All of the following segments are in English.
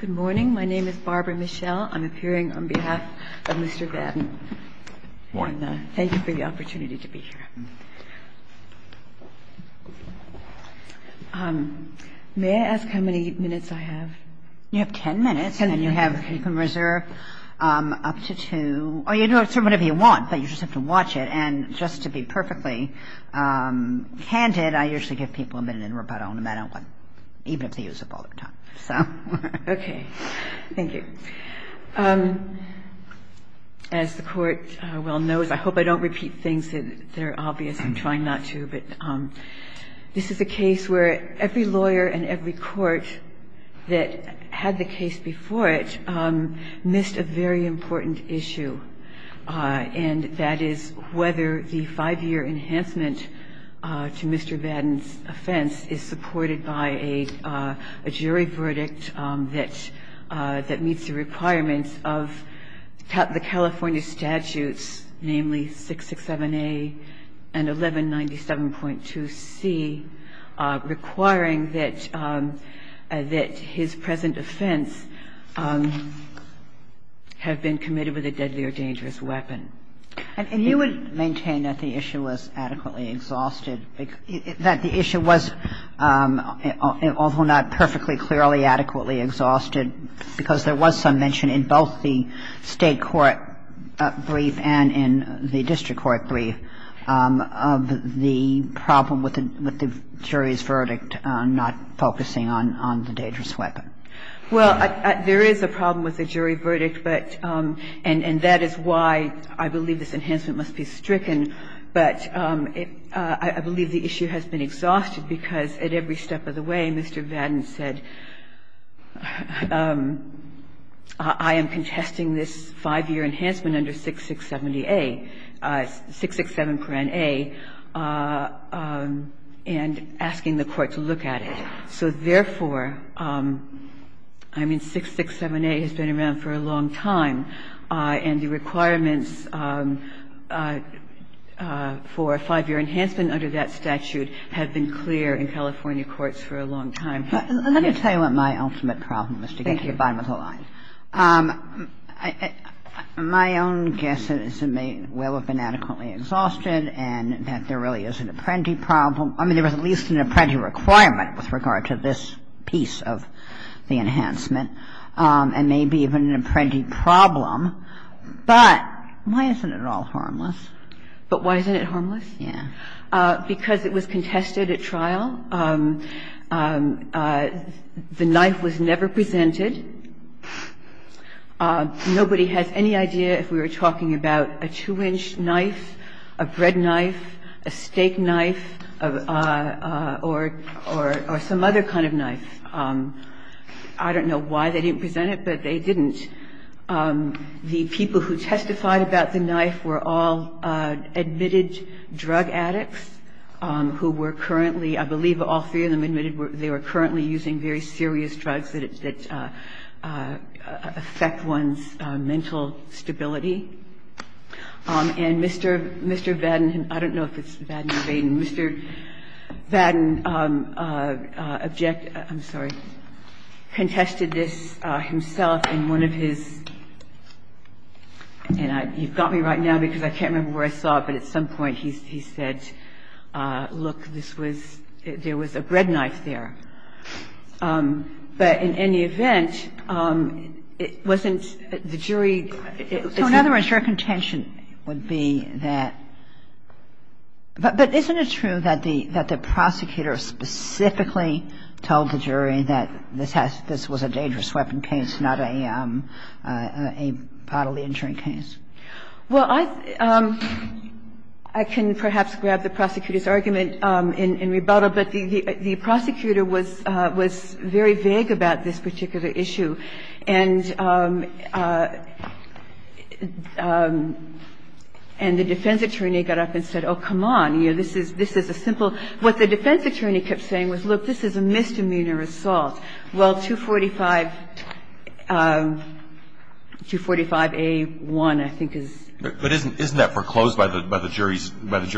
Good morning. My name is Barbara Michel. I'm appearing on behalf of Mr. Vaden. Thank you for the opportunity to be here. May I ask how many minutes I have? You have 10 minutes. And then you have, you can reserve up to two. Or you can do whatever you want, but you just have to watch it. And just to be perfectly candid, I usually give people a minute in rebuttal no matter what, even if they use up all their time. OK, thank you. As the court well knows, I hope I don't repeat things that are obvious. I'm trying not to. But this is a case where every lawyer and every court that had the case before it missed a very important issue. And that is whether the five-year enhancement to Mr. Vaden's offense is supported by a jury verdict that meets the requirements of the California statutes, namely 667A and 1197.2C, requiring that his present offense have been committed with a deadly or dangerous weapon. And you would maintain that the issue was adequately exhausted, that the issue was, although not perfectly clearly adequately exhausted, because there was some mention in both the state court brief and in the district court brief of the problem with the jury's verdict not focusing on the dangerous weapon. Well, there is a problem with the jury verdict. And that is why I believe this enhancement must be stricken. But I believe the issue has been exhausted, because at every step of the way, Mr. Vaden said, I am contesting this five-year enhancement under 667A, and asking the court to look at it. So therefore, I mean 667A has been around for a long time. And the requirements for a five-year enhancement under that statute have been clear in California courts for a long time. But let me tell you what my ultimate problem was to get to the bottom of the line. Thank you. My own guess is it may well have been adequately exhausted, and that there really is an apprentice problem. I mean, there was at least an apprentice requirement with regard to this piece of the enhancement. And maybe even an apprentice problem. But why isn't it all harmless? But why isn't it harmless? Yeah. Because it was contested at trial. The knife was never presented. Nobody has any idea if we were talking about a two-inch knife, a bread knife, a steak knife, or some other kind of knife. I don't know why they didn't present it, but they didn't. The people who testified about the knife were all admitted drug addicts who were currently, I believe all three of them admitted they were currently using very serious drugs that affect one's mental stability. And Mr. Baden, I don't know if it's Baden or Baden, and Mr. Baden objected, I'm sorry, contested this himself in one of his, and you've got me right now because I can't remember where I saw it, but at some point he said, look, this was, there was a bread knife there. But in any event, it wasn't, the jury, it's not. So in other words, your contention would be that, but isn't it true that the prosecutor specifically told the jury that this was a dangerous weapon case, not a bodily injury case? Well, I can perhaps grab the prosecutor's argument in rebuttal, but the prosecutor was very vague about this particular issue. And the defense attorney got up and said, oh, come on, this is a simple, what the defense attorney kept saying was, look, this is a misdemeanor assault. Well, 245A1, I think, is. But isn't that foreclosed by the jury's verdict?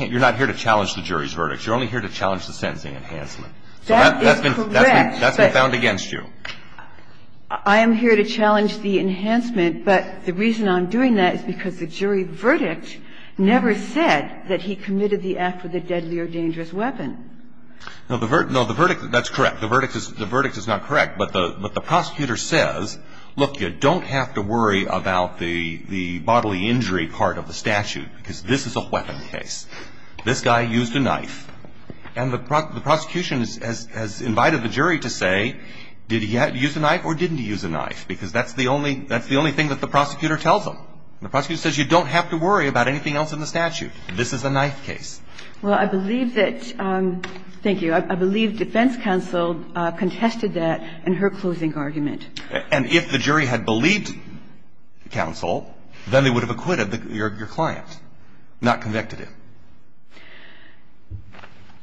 You're not here to challenge the jury's verdict. You're only here to challenge the sentencing enhancement. That is correct. That's been found against you. I am here to challenge the enhancement, but the reason I'm doing that is because the jury verdict never said that he committed the act with a deadly or dangerous weapon. No, the verdict, that's correct. The verdict is not correct. But the prosecutor says, look, you don't have to worry about the bodily injury part of the statute, because this is a weapon case. This guy used a knife. And the prosecution has invited the jury to say, did he use a knife or didn't he use a knife, because that's the only thing that the prosecutor tells them. The prosecutor says, you don't have to worry about anything else in the statute. This is a knife case. Well, I believe that, thank you, I believe defense counsel contested that in her closing argument. And if the jury had believed counsel, then they would have acquitted your client, not convicted him.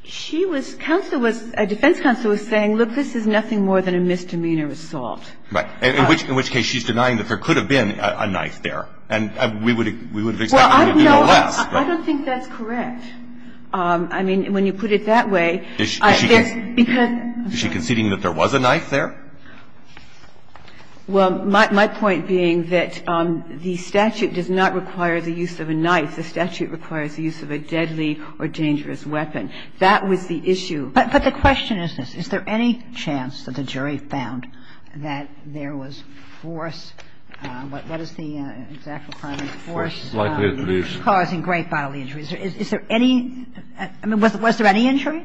She was, counsel was, defense counsel was saying, look, this is nothing more than a misdemeanor assault. Right. In which case she's denying that there could have been a knife there. And we would have expected there to have been a less, right? Well, I don't think that's correct. I mean, when you put it that way, there's, because, I'm sorry. Is she conceding that there was a knife there? Well, my point being that the statute does not require the use of a knife. The statute requires the use of a deadly or dangerous weapon. That was the issue. But the question is this. Is there any chance that the jury found that there was force? What is the exact requirement? Force likely to produce. Causing great bodily injuries. Is there any, I mean, was there any injury?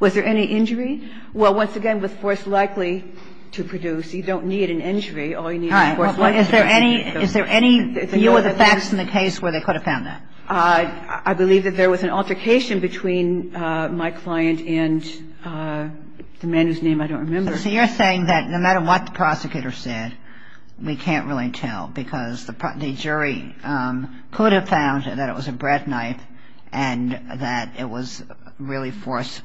Was there any injury? Well, once again, with force likely to produce, you don't need an injury. All you need is force likely to produce. Is there any, is there any deal with the facts in the case where they could have found that? I believe that there was an altercation between my client and the man whose name I don't remember. So you're saying that no matter what the prosecutor said, we can't really tell. Because the jury could have found that it was a bread knife. And that it was really force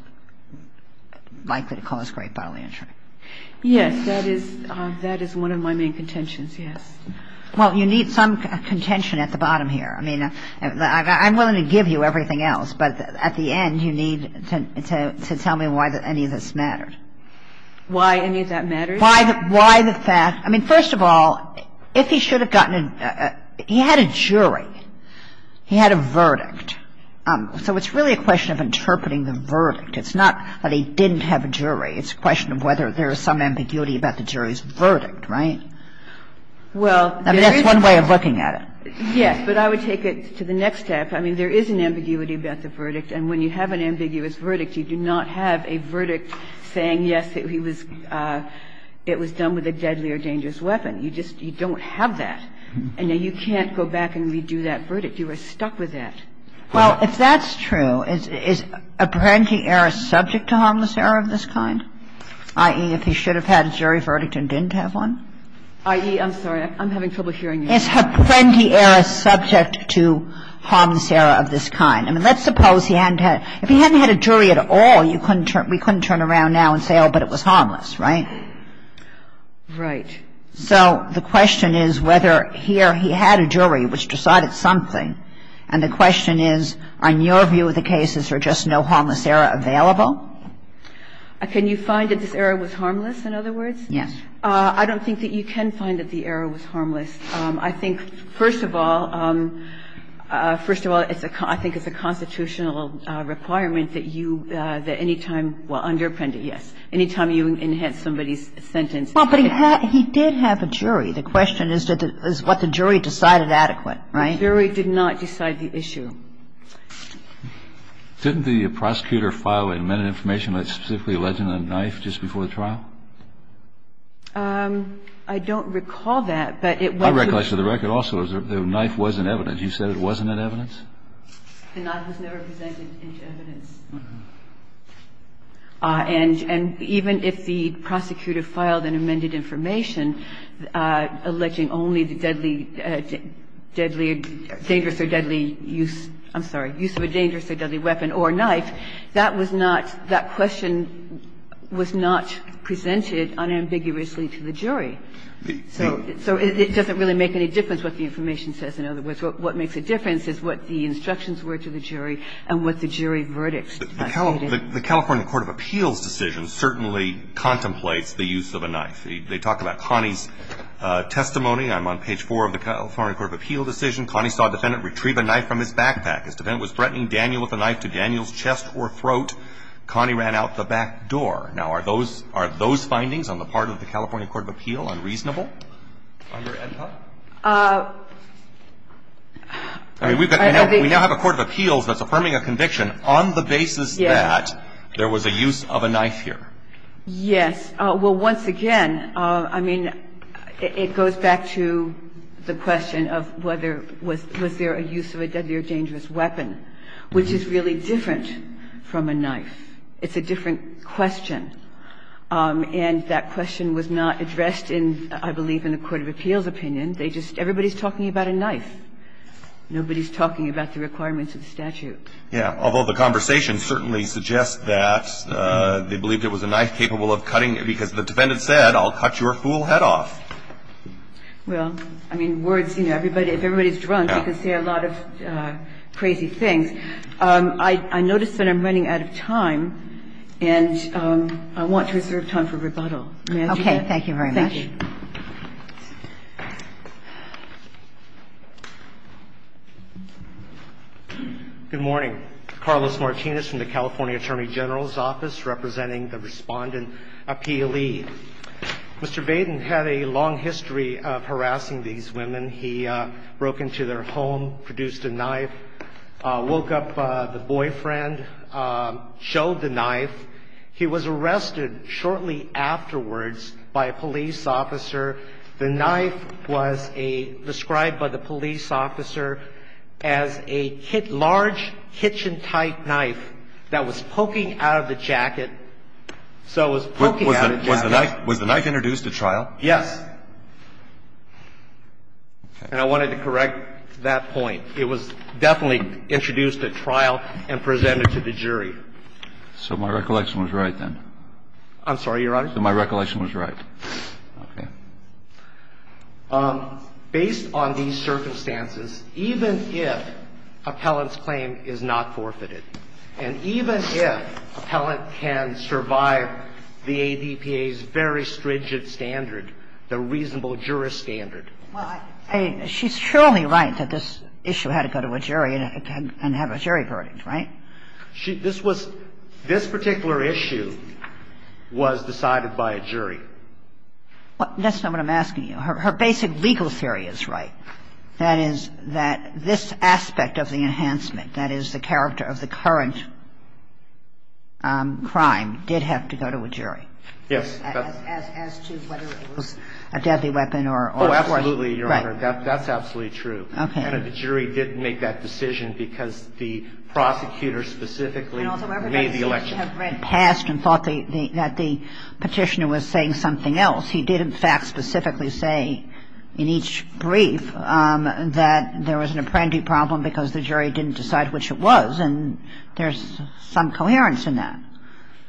likely to cause great bodily injury. Yes, that is, that is one of my main contentions, yes. Well, you need some contention at the bottom here. I mean, I'm willing to give you everything else. But at the end, you need to tell me why any of this mattered. Why any of that mattered? Why the fact, I mean, first of all, if he should have gotten a, he had a jury. He had a verdict. So it's really a question of interpreting the verdict. It's not that he didn't have a jury. It's a question of whether there is some ambiguity about the jury's verdict, right? Well, there is. I mean, that's one way of looking at it. Yes. But I would take it to the next step. I mean, there is an ambiguity about the verdict. And when you have an ambiguous verdict, you do not have a verdict saying, yes, he was, it was done with a deadly or dangerous weapon. You just, you don't have that. And then you can't go back and redo that verdict. You are stuck with that. Well, if that's true, is a parenting error subject to harmless error of this kind? I.e., if he should have had a jury verdict and didn't have one? I.e., I'm sorry. I'm having trouble hearing you. Is a parenting error subject to harmless error of this kind? I mean, let's suppose he hadn't had, if he hadn't had a jury at all, you couldn't turn, we couldn't turn around now and say, oh, but it was harmless, right? Right. So the question is whether he or he had a jury which decided something. And the question is, on your view, the cases are just no harmless error available? Can you find that this error was harmless, in other words? Yes. I don't think that you can find that the error was harmless. I think, first of all, first of all, it's a, I think it's a constitutional requirement that you, that any time, well, under Apprendi, yes, any time you enhance somebody's sentence. Well, but he had, he did have a jury. The question is, did the, is what the jury decided adequate, right? The jury did not decide the issue. Didn't the prosecutor file an amended information like specifically a legend and a knife just before the trial? I don't recall that, but it was a. I recollect, for the record also, the knife was in evidence. You said it wasn't in evidence? The knife was never presented into evidence. And even if the prosecutor filed an amended information alleging only the deadly, deadly, dangerous or deadly use, I'm sorry, use of a dangerous or deadly weapon or knife, that was not, that question was not presented unambiguously to the jury. So it doesn't really make any difference what the information says. In other words, what makes a difference is what the instructions were to the jury and what the jury verdicts. The California Court of Appeals decision certainly contemplates the use of a knife. They talk about Connie's testimony. I'm on page 4 of the California Court of Appeals decision. Connie saw a defendant retrieve a knife from his backpack. As the defendant was threatening Daniel with a knife to Daniel's chest or throat, Connie ran out the back door. Now, are those findings on the part of the California Court of Appeals unreasonable? I mean, we now have a court of appeals that's affirming a conviction on the basis that there was a use of a knife here. Yes. Well, once again, I mean, it goes back to the question of whether was there a use of a deadly or dangerous weapon, which is really different from a knife. It's a different question. And that question was not addressed in, I believe, in the court of appeals opinion. They just, everybody's talking about a knife. Nobody's talking about the requirements of the statute. Yes. Although the conversation certainly suggests that they believed it was a knife capable of cutting, because the defendant said, I'll cut your fool head off. Well, I mean, words, you know, everybody, if everybody's drunk, they can say a lot of crazy things. I noticed that I'm running out of time, and I want to reserve time for rebuttal. Okay. Thank you very much. Thank you. Good morning. Carlos Martinez from the California Attorney General's Office representing the Respondent Appealee. Mr. Baden had a long history of harassing these women. He broke into their home, produced a knife, woke up the boyfriend, showed the knife. He was arrested shortly afterwards by a police officer. The knife was described by the police officer as a large, kitchen-type knife that was poking out of the jacket. So it was poking out of the jacket. Was the knife introduced at trial? Yes. And I wanted to correct that point. It was definitely introduced at trial and presented to the jury. So my recollection was right then. I'm sorry, Your Honor? So my recollection was right. Okay. Based on these circumstances, even if appellant's claim is not forfeited, and even if appellant can survive the ADPA's very stringent standard, the reasonable juror standard. Well, she's surely right that this issue had to go to a jury and have a jury verdict, right? This was this particular issue was decided by a jury. That's not what I'm asking you. Her basic legal theory is right, that is, that this aspect of the enhancement, that is, the character of the current crime did have to go to a jury. Yes. As to whether it was a deadly weapon or a force. Oh, absolutely, Your Honor. That's absolutely true. Okay. And the jury did make that decision because the prosecutor specifically made the election. And also everybody seems to have read past and thought that the Petitioner was saying something else. He did, in fact, specifically say in each brief that there was an apprendee problem because the jury didn't decide which it was, and there's some coherence in that.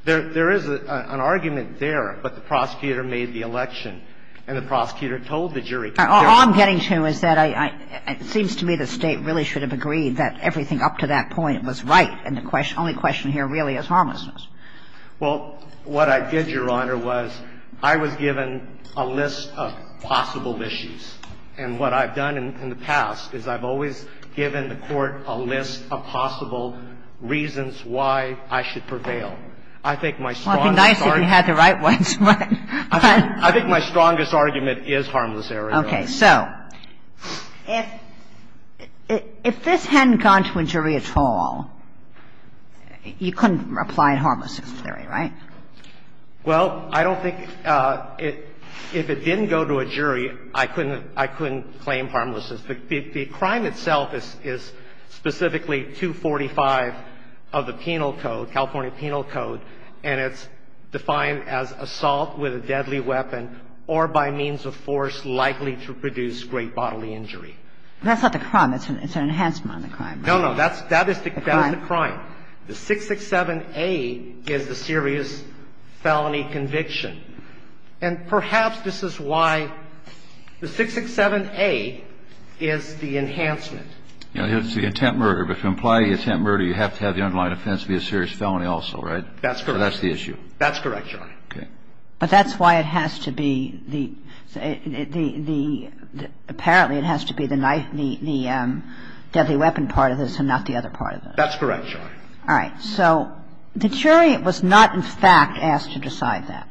There is an argument there, but the prosecutor made the election, and the prosecutor told the jury. All I'm getting to is that I seems to me the State really should have agreed that everything up to that point was right, and the only question here really is harmlessness. Well, what I did, Your Honor, was I was given a list of possible issues. And what I've done in the past is I've always given the Court a list of possible reasons why I should prevail. I think my strongest argument – Well, it would be nice if you had the right ones. I think my strongest argument is harmless error, Your Honor. Okay. So if this hadn't gone to a jury at all, you couldn't apply harmless error, right? Well, I don't think – if it didn't go to a jury, I couldn't claim harmlessness. The crime itself is specifically 245 of the penal code, California penal code, and it's defined as assault with a deadly weapon or by means of force likely to produce great bodily injury. That's not the crime. It's an enhancement on the crime. No, no. That is the crime. The 667A is the serious felony conviction. And perhaps this is why the 667A is the enhancement. It's the attempt murder. But if you apply the attempt murder, you have to have the underlying offense to be a serious felony also, right? That's correct. So that's the issue. That's correct, Your Honor. Okay. But that's why it has to be the – apparently it has to be the deadly weapon part of this and not the other part of this. That's correct, Your Honor. All right. So the jury was not, in fact, asked to decide that.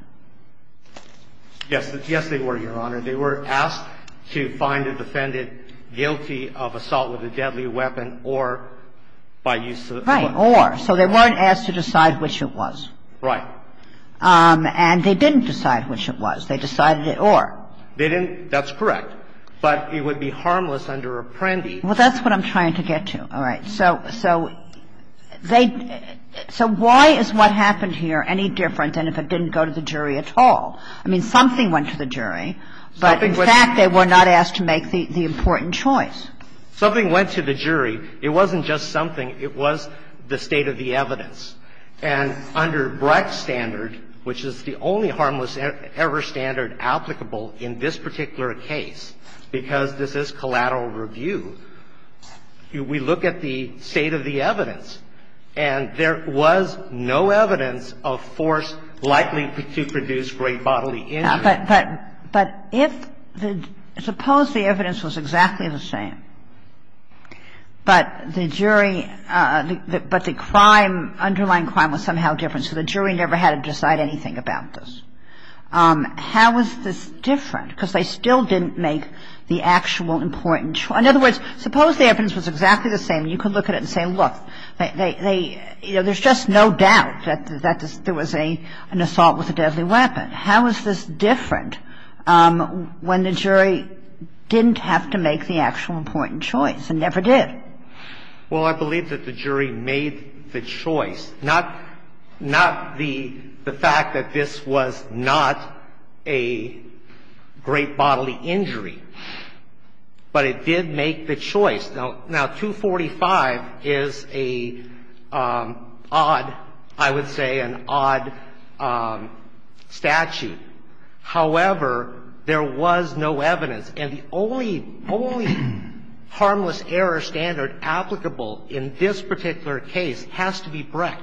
Yes. Yes, they were, Your Honor. They were asked to find a defendant guilty of assault with a deadly weapon or by use of a weapon. Right. Or. So they weren't asked to decide which it was. Right. And they didn't decide which it was. They decided it or. They didn't. That's correct. But it would be harmless under Apprendi. Well, that's what I'm trying to get to. All right. So they – so why is what happened here any different than if it didn't go to the jury at all? I mean, something went to the jury, but, in fact, they were not asked to make the important choice. Something went to the jury. It wasn't just something. It was the state of the evidence. And under Brecht's standard, which is the only harmless error standard applicable in this particular case, because this is collateral review, we look at the state of the evidence. And there was no evidence of force likely to produce great bodily injury. But if the – suppose the evidence was exactly the same, but the jury – but the crime, underlying crime was somehow different, so the jury never had to decide anything about this. How is this different? Because they still didn't make the actual important – in other words, suppose the evidence was exactly the same, and you could look at it and say, look, they – you know, there's just no doubt that there was an assault with a deadly weapon. How is this different when the jury didn't have to make the actual important choice and never did? Well, I believe that the jury made the choice. Not the fact that this was not a great bodily injury, but it did make the choice. Now, 245 is a odd – I would say an odd statute. However, there was no evidence. And the only – only harmless error standard applicable in this particular case has to be Brecht.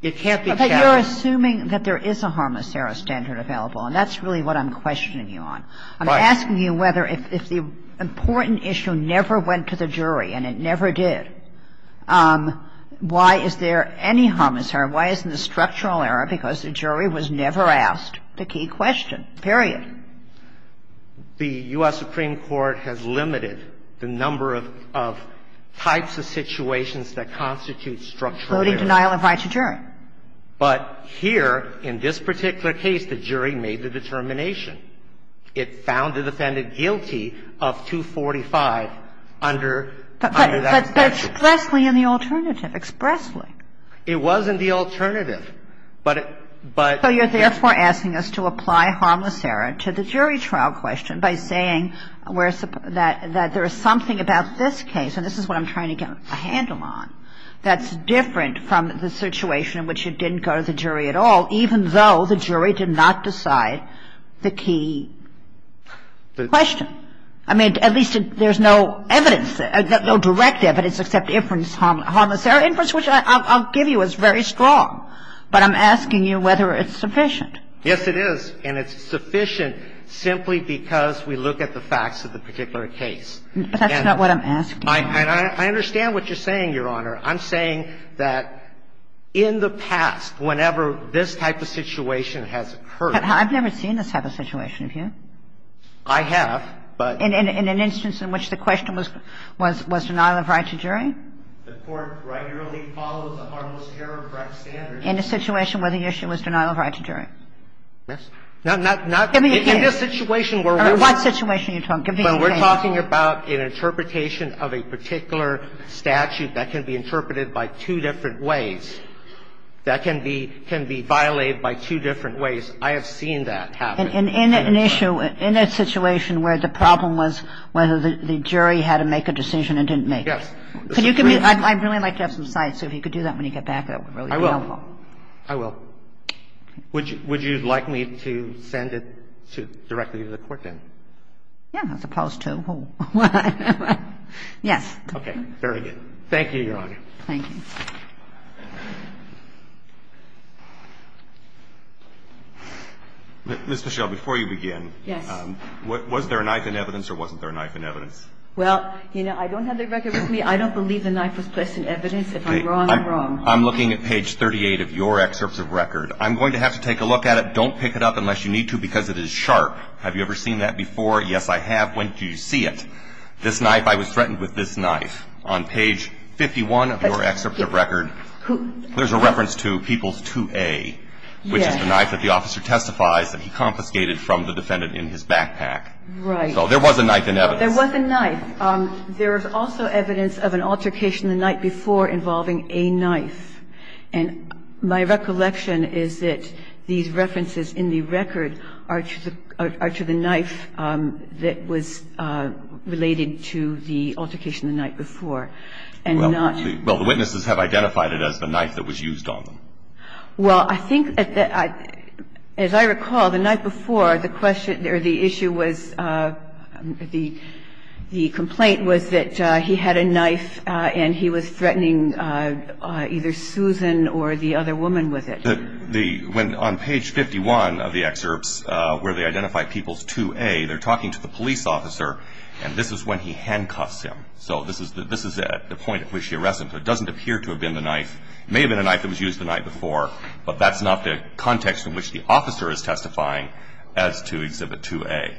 It can't be Chaffetz. But you're assuming that there is a harmless error standard available, and that's really what I'm questioning you on. Right. I'm asking you whether – if the important issue never went to the jury, and it never did, why is there any harmless error? Why is there no structural error? Why isn't there structural error? Why isn't there structural error? Because the jury was never asked the key question, period. The U.S. Supreme Court has limited the number of types of situations that constitute structural error. Including denial of right to jury. But here, in this particular case, the jury made the determination. It found the defendant guilty of 245 under that statute. But expressly in the alternative. Expressly. It was in the alternative. But – but – So you're therefore asking us to apply harmless error to the jury trial question by saying that there is something about this case – and this is what I'm trying to get a handle on – that's different from the situation in which it didn't go to the jury at all, even though the jury did not decide the key question. I mean, at least there's no evidence, no direct evidence except inference harmless error. Inference, which I'll give you, is very strong. But I'm asking you whether it's sufficient. Yes, it is. And it's sufficient simply because we look at the facts of the particular case. But that's not what I'm asking. And I understand what you're saying, Your Honor. I'm saying that in the past, whenever this type of situation has occurred – But I've never seen this type of situation, have you? I have, but – In an instance in which the question was – was denial of right to jury? The Court regularly follows a harmless error correct standard. In a situation where the issue was denial of right to jury? Yes. No, not – not – Give me a hint. All right. What situation are you talking about? Give me a hint. When we're talking about an interpretation of a particular statute that can be interpreted by two different ways, that can be – can be violated by two different ways, I have seen that happen. And in an issue – in a situation where the problem was whether the jury had to make a decision and didn't make it? Yes. Could you give me – I'd really like to have some sight, so if you could do that when you get back, that would really be helpful. I will. I will. Would you – would you like me to send it to – directly to the Court then? Yeah, as opposed to who? Yes. Okay. Very good. Thank you, Your Honor. Thank you. Ms. Pichelle, before you begin, was there a knife in evidence or wasn't there a knife in evidence? Well, you know, I don't have the record with me. I don't believe the knife was placed in evidence. If I'm wrong, I'm wrong. I'm looking at page 38 of your excerpts of record. I'm going to have to take a look at it. Don't pick it up unless you need to, because it is sharp. Have you ever seen that before? Yes, I have. When did you see it? This knife? I was threatened with this knife. On page 51 of your excerpt of record, there's a reference to peoples 2A, which is the knife that the officer testifies that he confiscated from the defendant in his backpack. Right. So there was a knife in evidence. There was a knife. There is also evidence of an altercation the night before involving a knife. And my recollection is that these references in the record are to the knife that was related to the altercation the night before. Well, the witnesses have identified it as the knife that was used on them. Well, I think, as I recall, the night before, the issue was, the complaint was that he had a knife and he was threatening either Susan or the other woman with it. The one on page 51 of the excerpts where they identify peoples 2A, they're talking to the police officer, and this is when he handcuffs him. So this is at the point at which he arrests him. But it doesn't appear to have been the knife. It may have been a knife that was used the night before, but that's not the context in which the officer is testifying as to Exhibit 2A.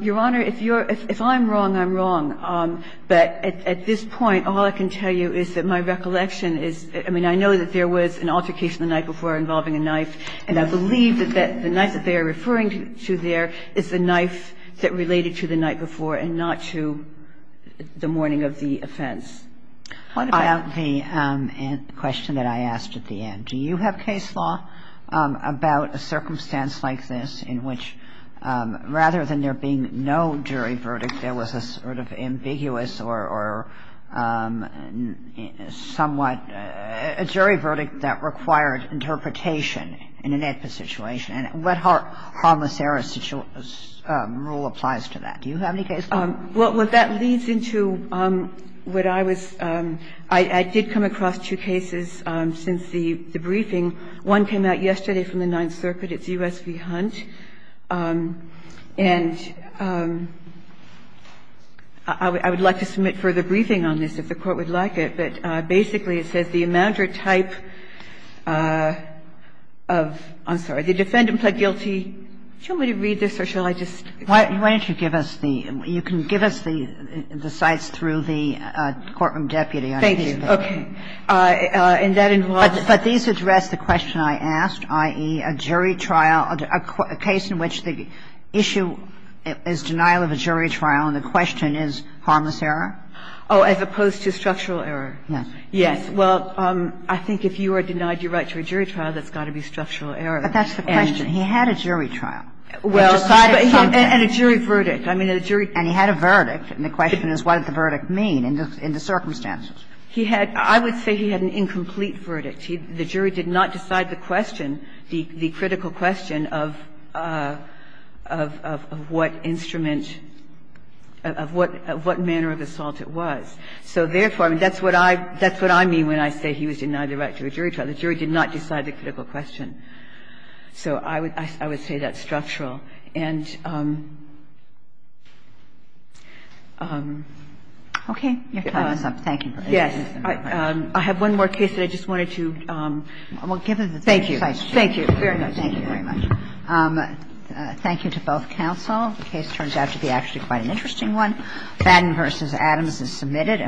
Your Honor, if you're – if I'm wrong, I'm wrong. But at this point, all I can tell you is that my recollection is – I mean, I know that there was an altercation the night before involving a knife, and I believe that the knife that they are referring to there is the knife that related to the night before and not to the morning of the offense. What about the question that I asked at the end? Do you have case law about a circumstance like this in which, rather than there being no jury verdict, there was a sort of ambiguous or somewhat – a jury verdict that required interpretation in an AEDPA situation? And what harmless error rule applies to that? Do you have any case law? Well, what that leads into what I was – I did come across two cases since the briefing. One came out yesterday from the Ninth Circuit. It's U.S. v. Hunt. And I would like to submit further briefing on this if the Court would like it. But basically, it says the amount or type of – I'm sorry, the defendant pled guilty – do you want me to read this, or shall I just – Why don't you give us the – you can give us the sites through the courtroom deputy. Thank you. Okay. And that involves – But these address the question I asked, i.e., a jury trial, a case in which the issue is denial of a jury trial and the question is harmless error? Oh, as opposed to structural error. Yes. Yes. Well, I think if you are denied your right to a jury trial, that's got to be structural error. But that's the question. He had a jury trial. Well, and a jury verdict. I mean, a jury – And he had a verdict. And the question is, what did the verdict mean in the circumstances? He had – I would say he had an incomplete verdict. The jury did not decide the question, the critical question of what instrument – of what manner of assault it was. So therefore, that's what I mean when I say he was denied the right to a jury trial. The jury did not decide the critical question. So I would say that's structural. And – Okay. Your time is up. Thank you. Yes. I have one more case that I just wanted to – Well, give us the – Thank you. Thank you very much. Thank you very much. Thank you to both counsel. The case turns out to be actually quite an interesting one. Madden v. Adams is submitted.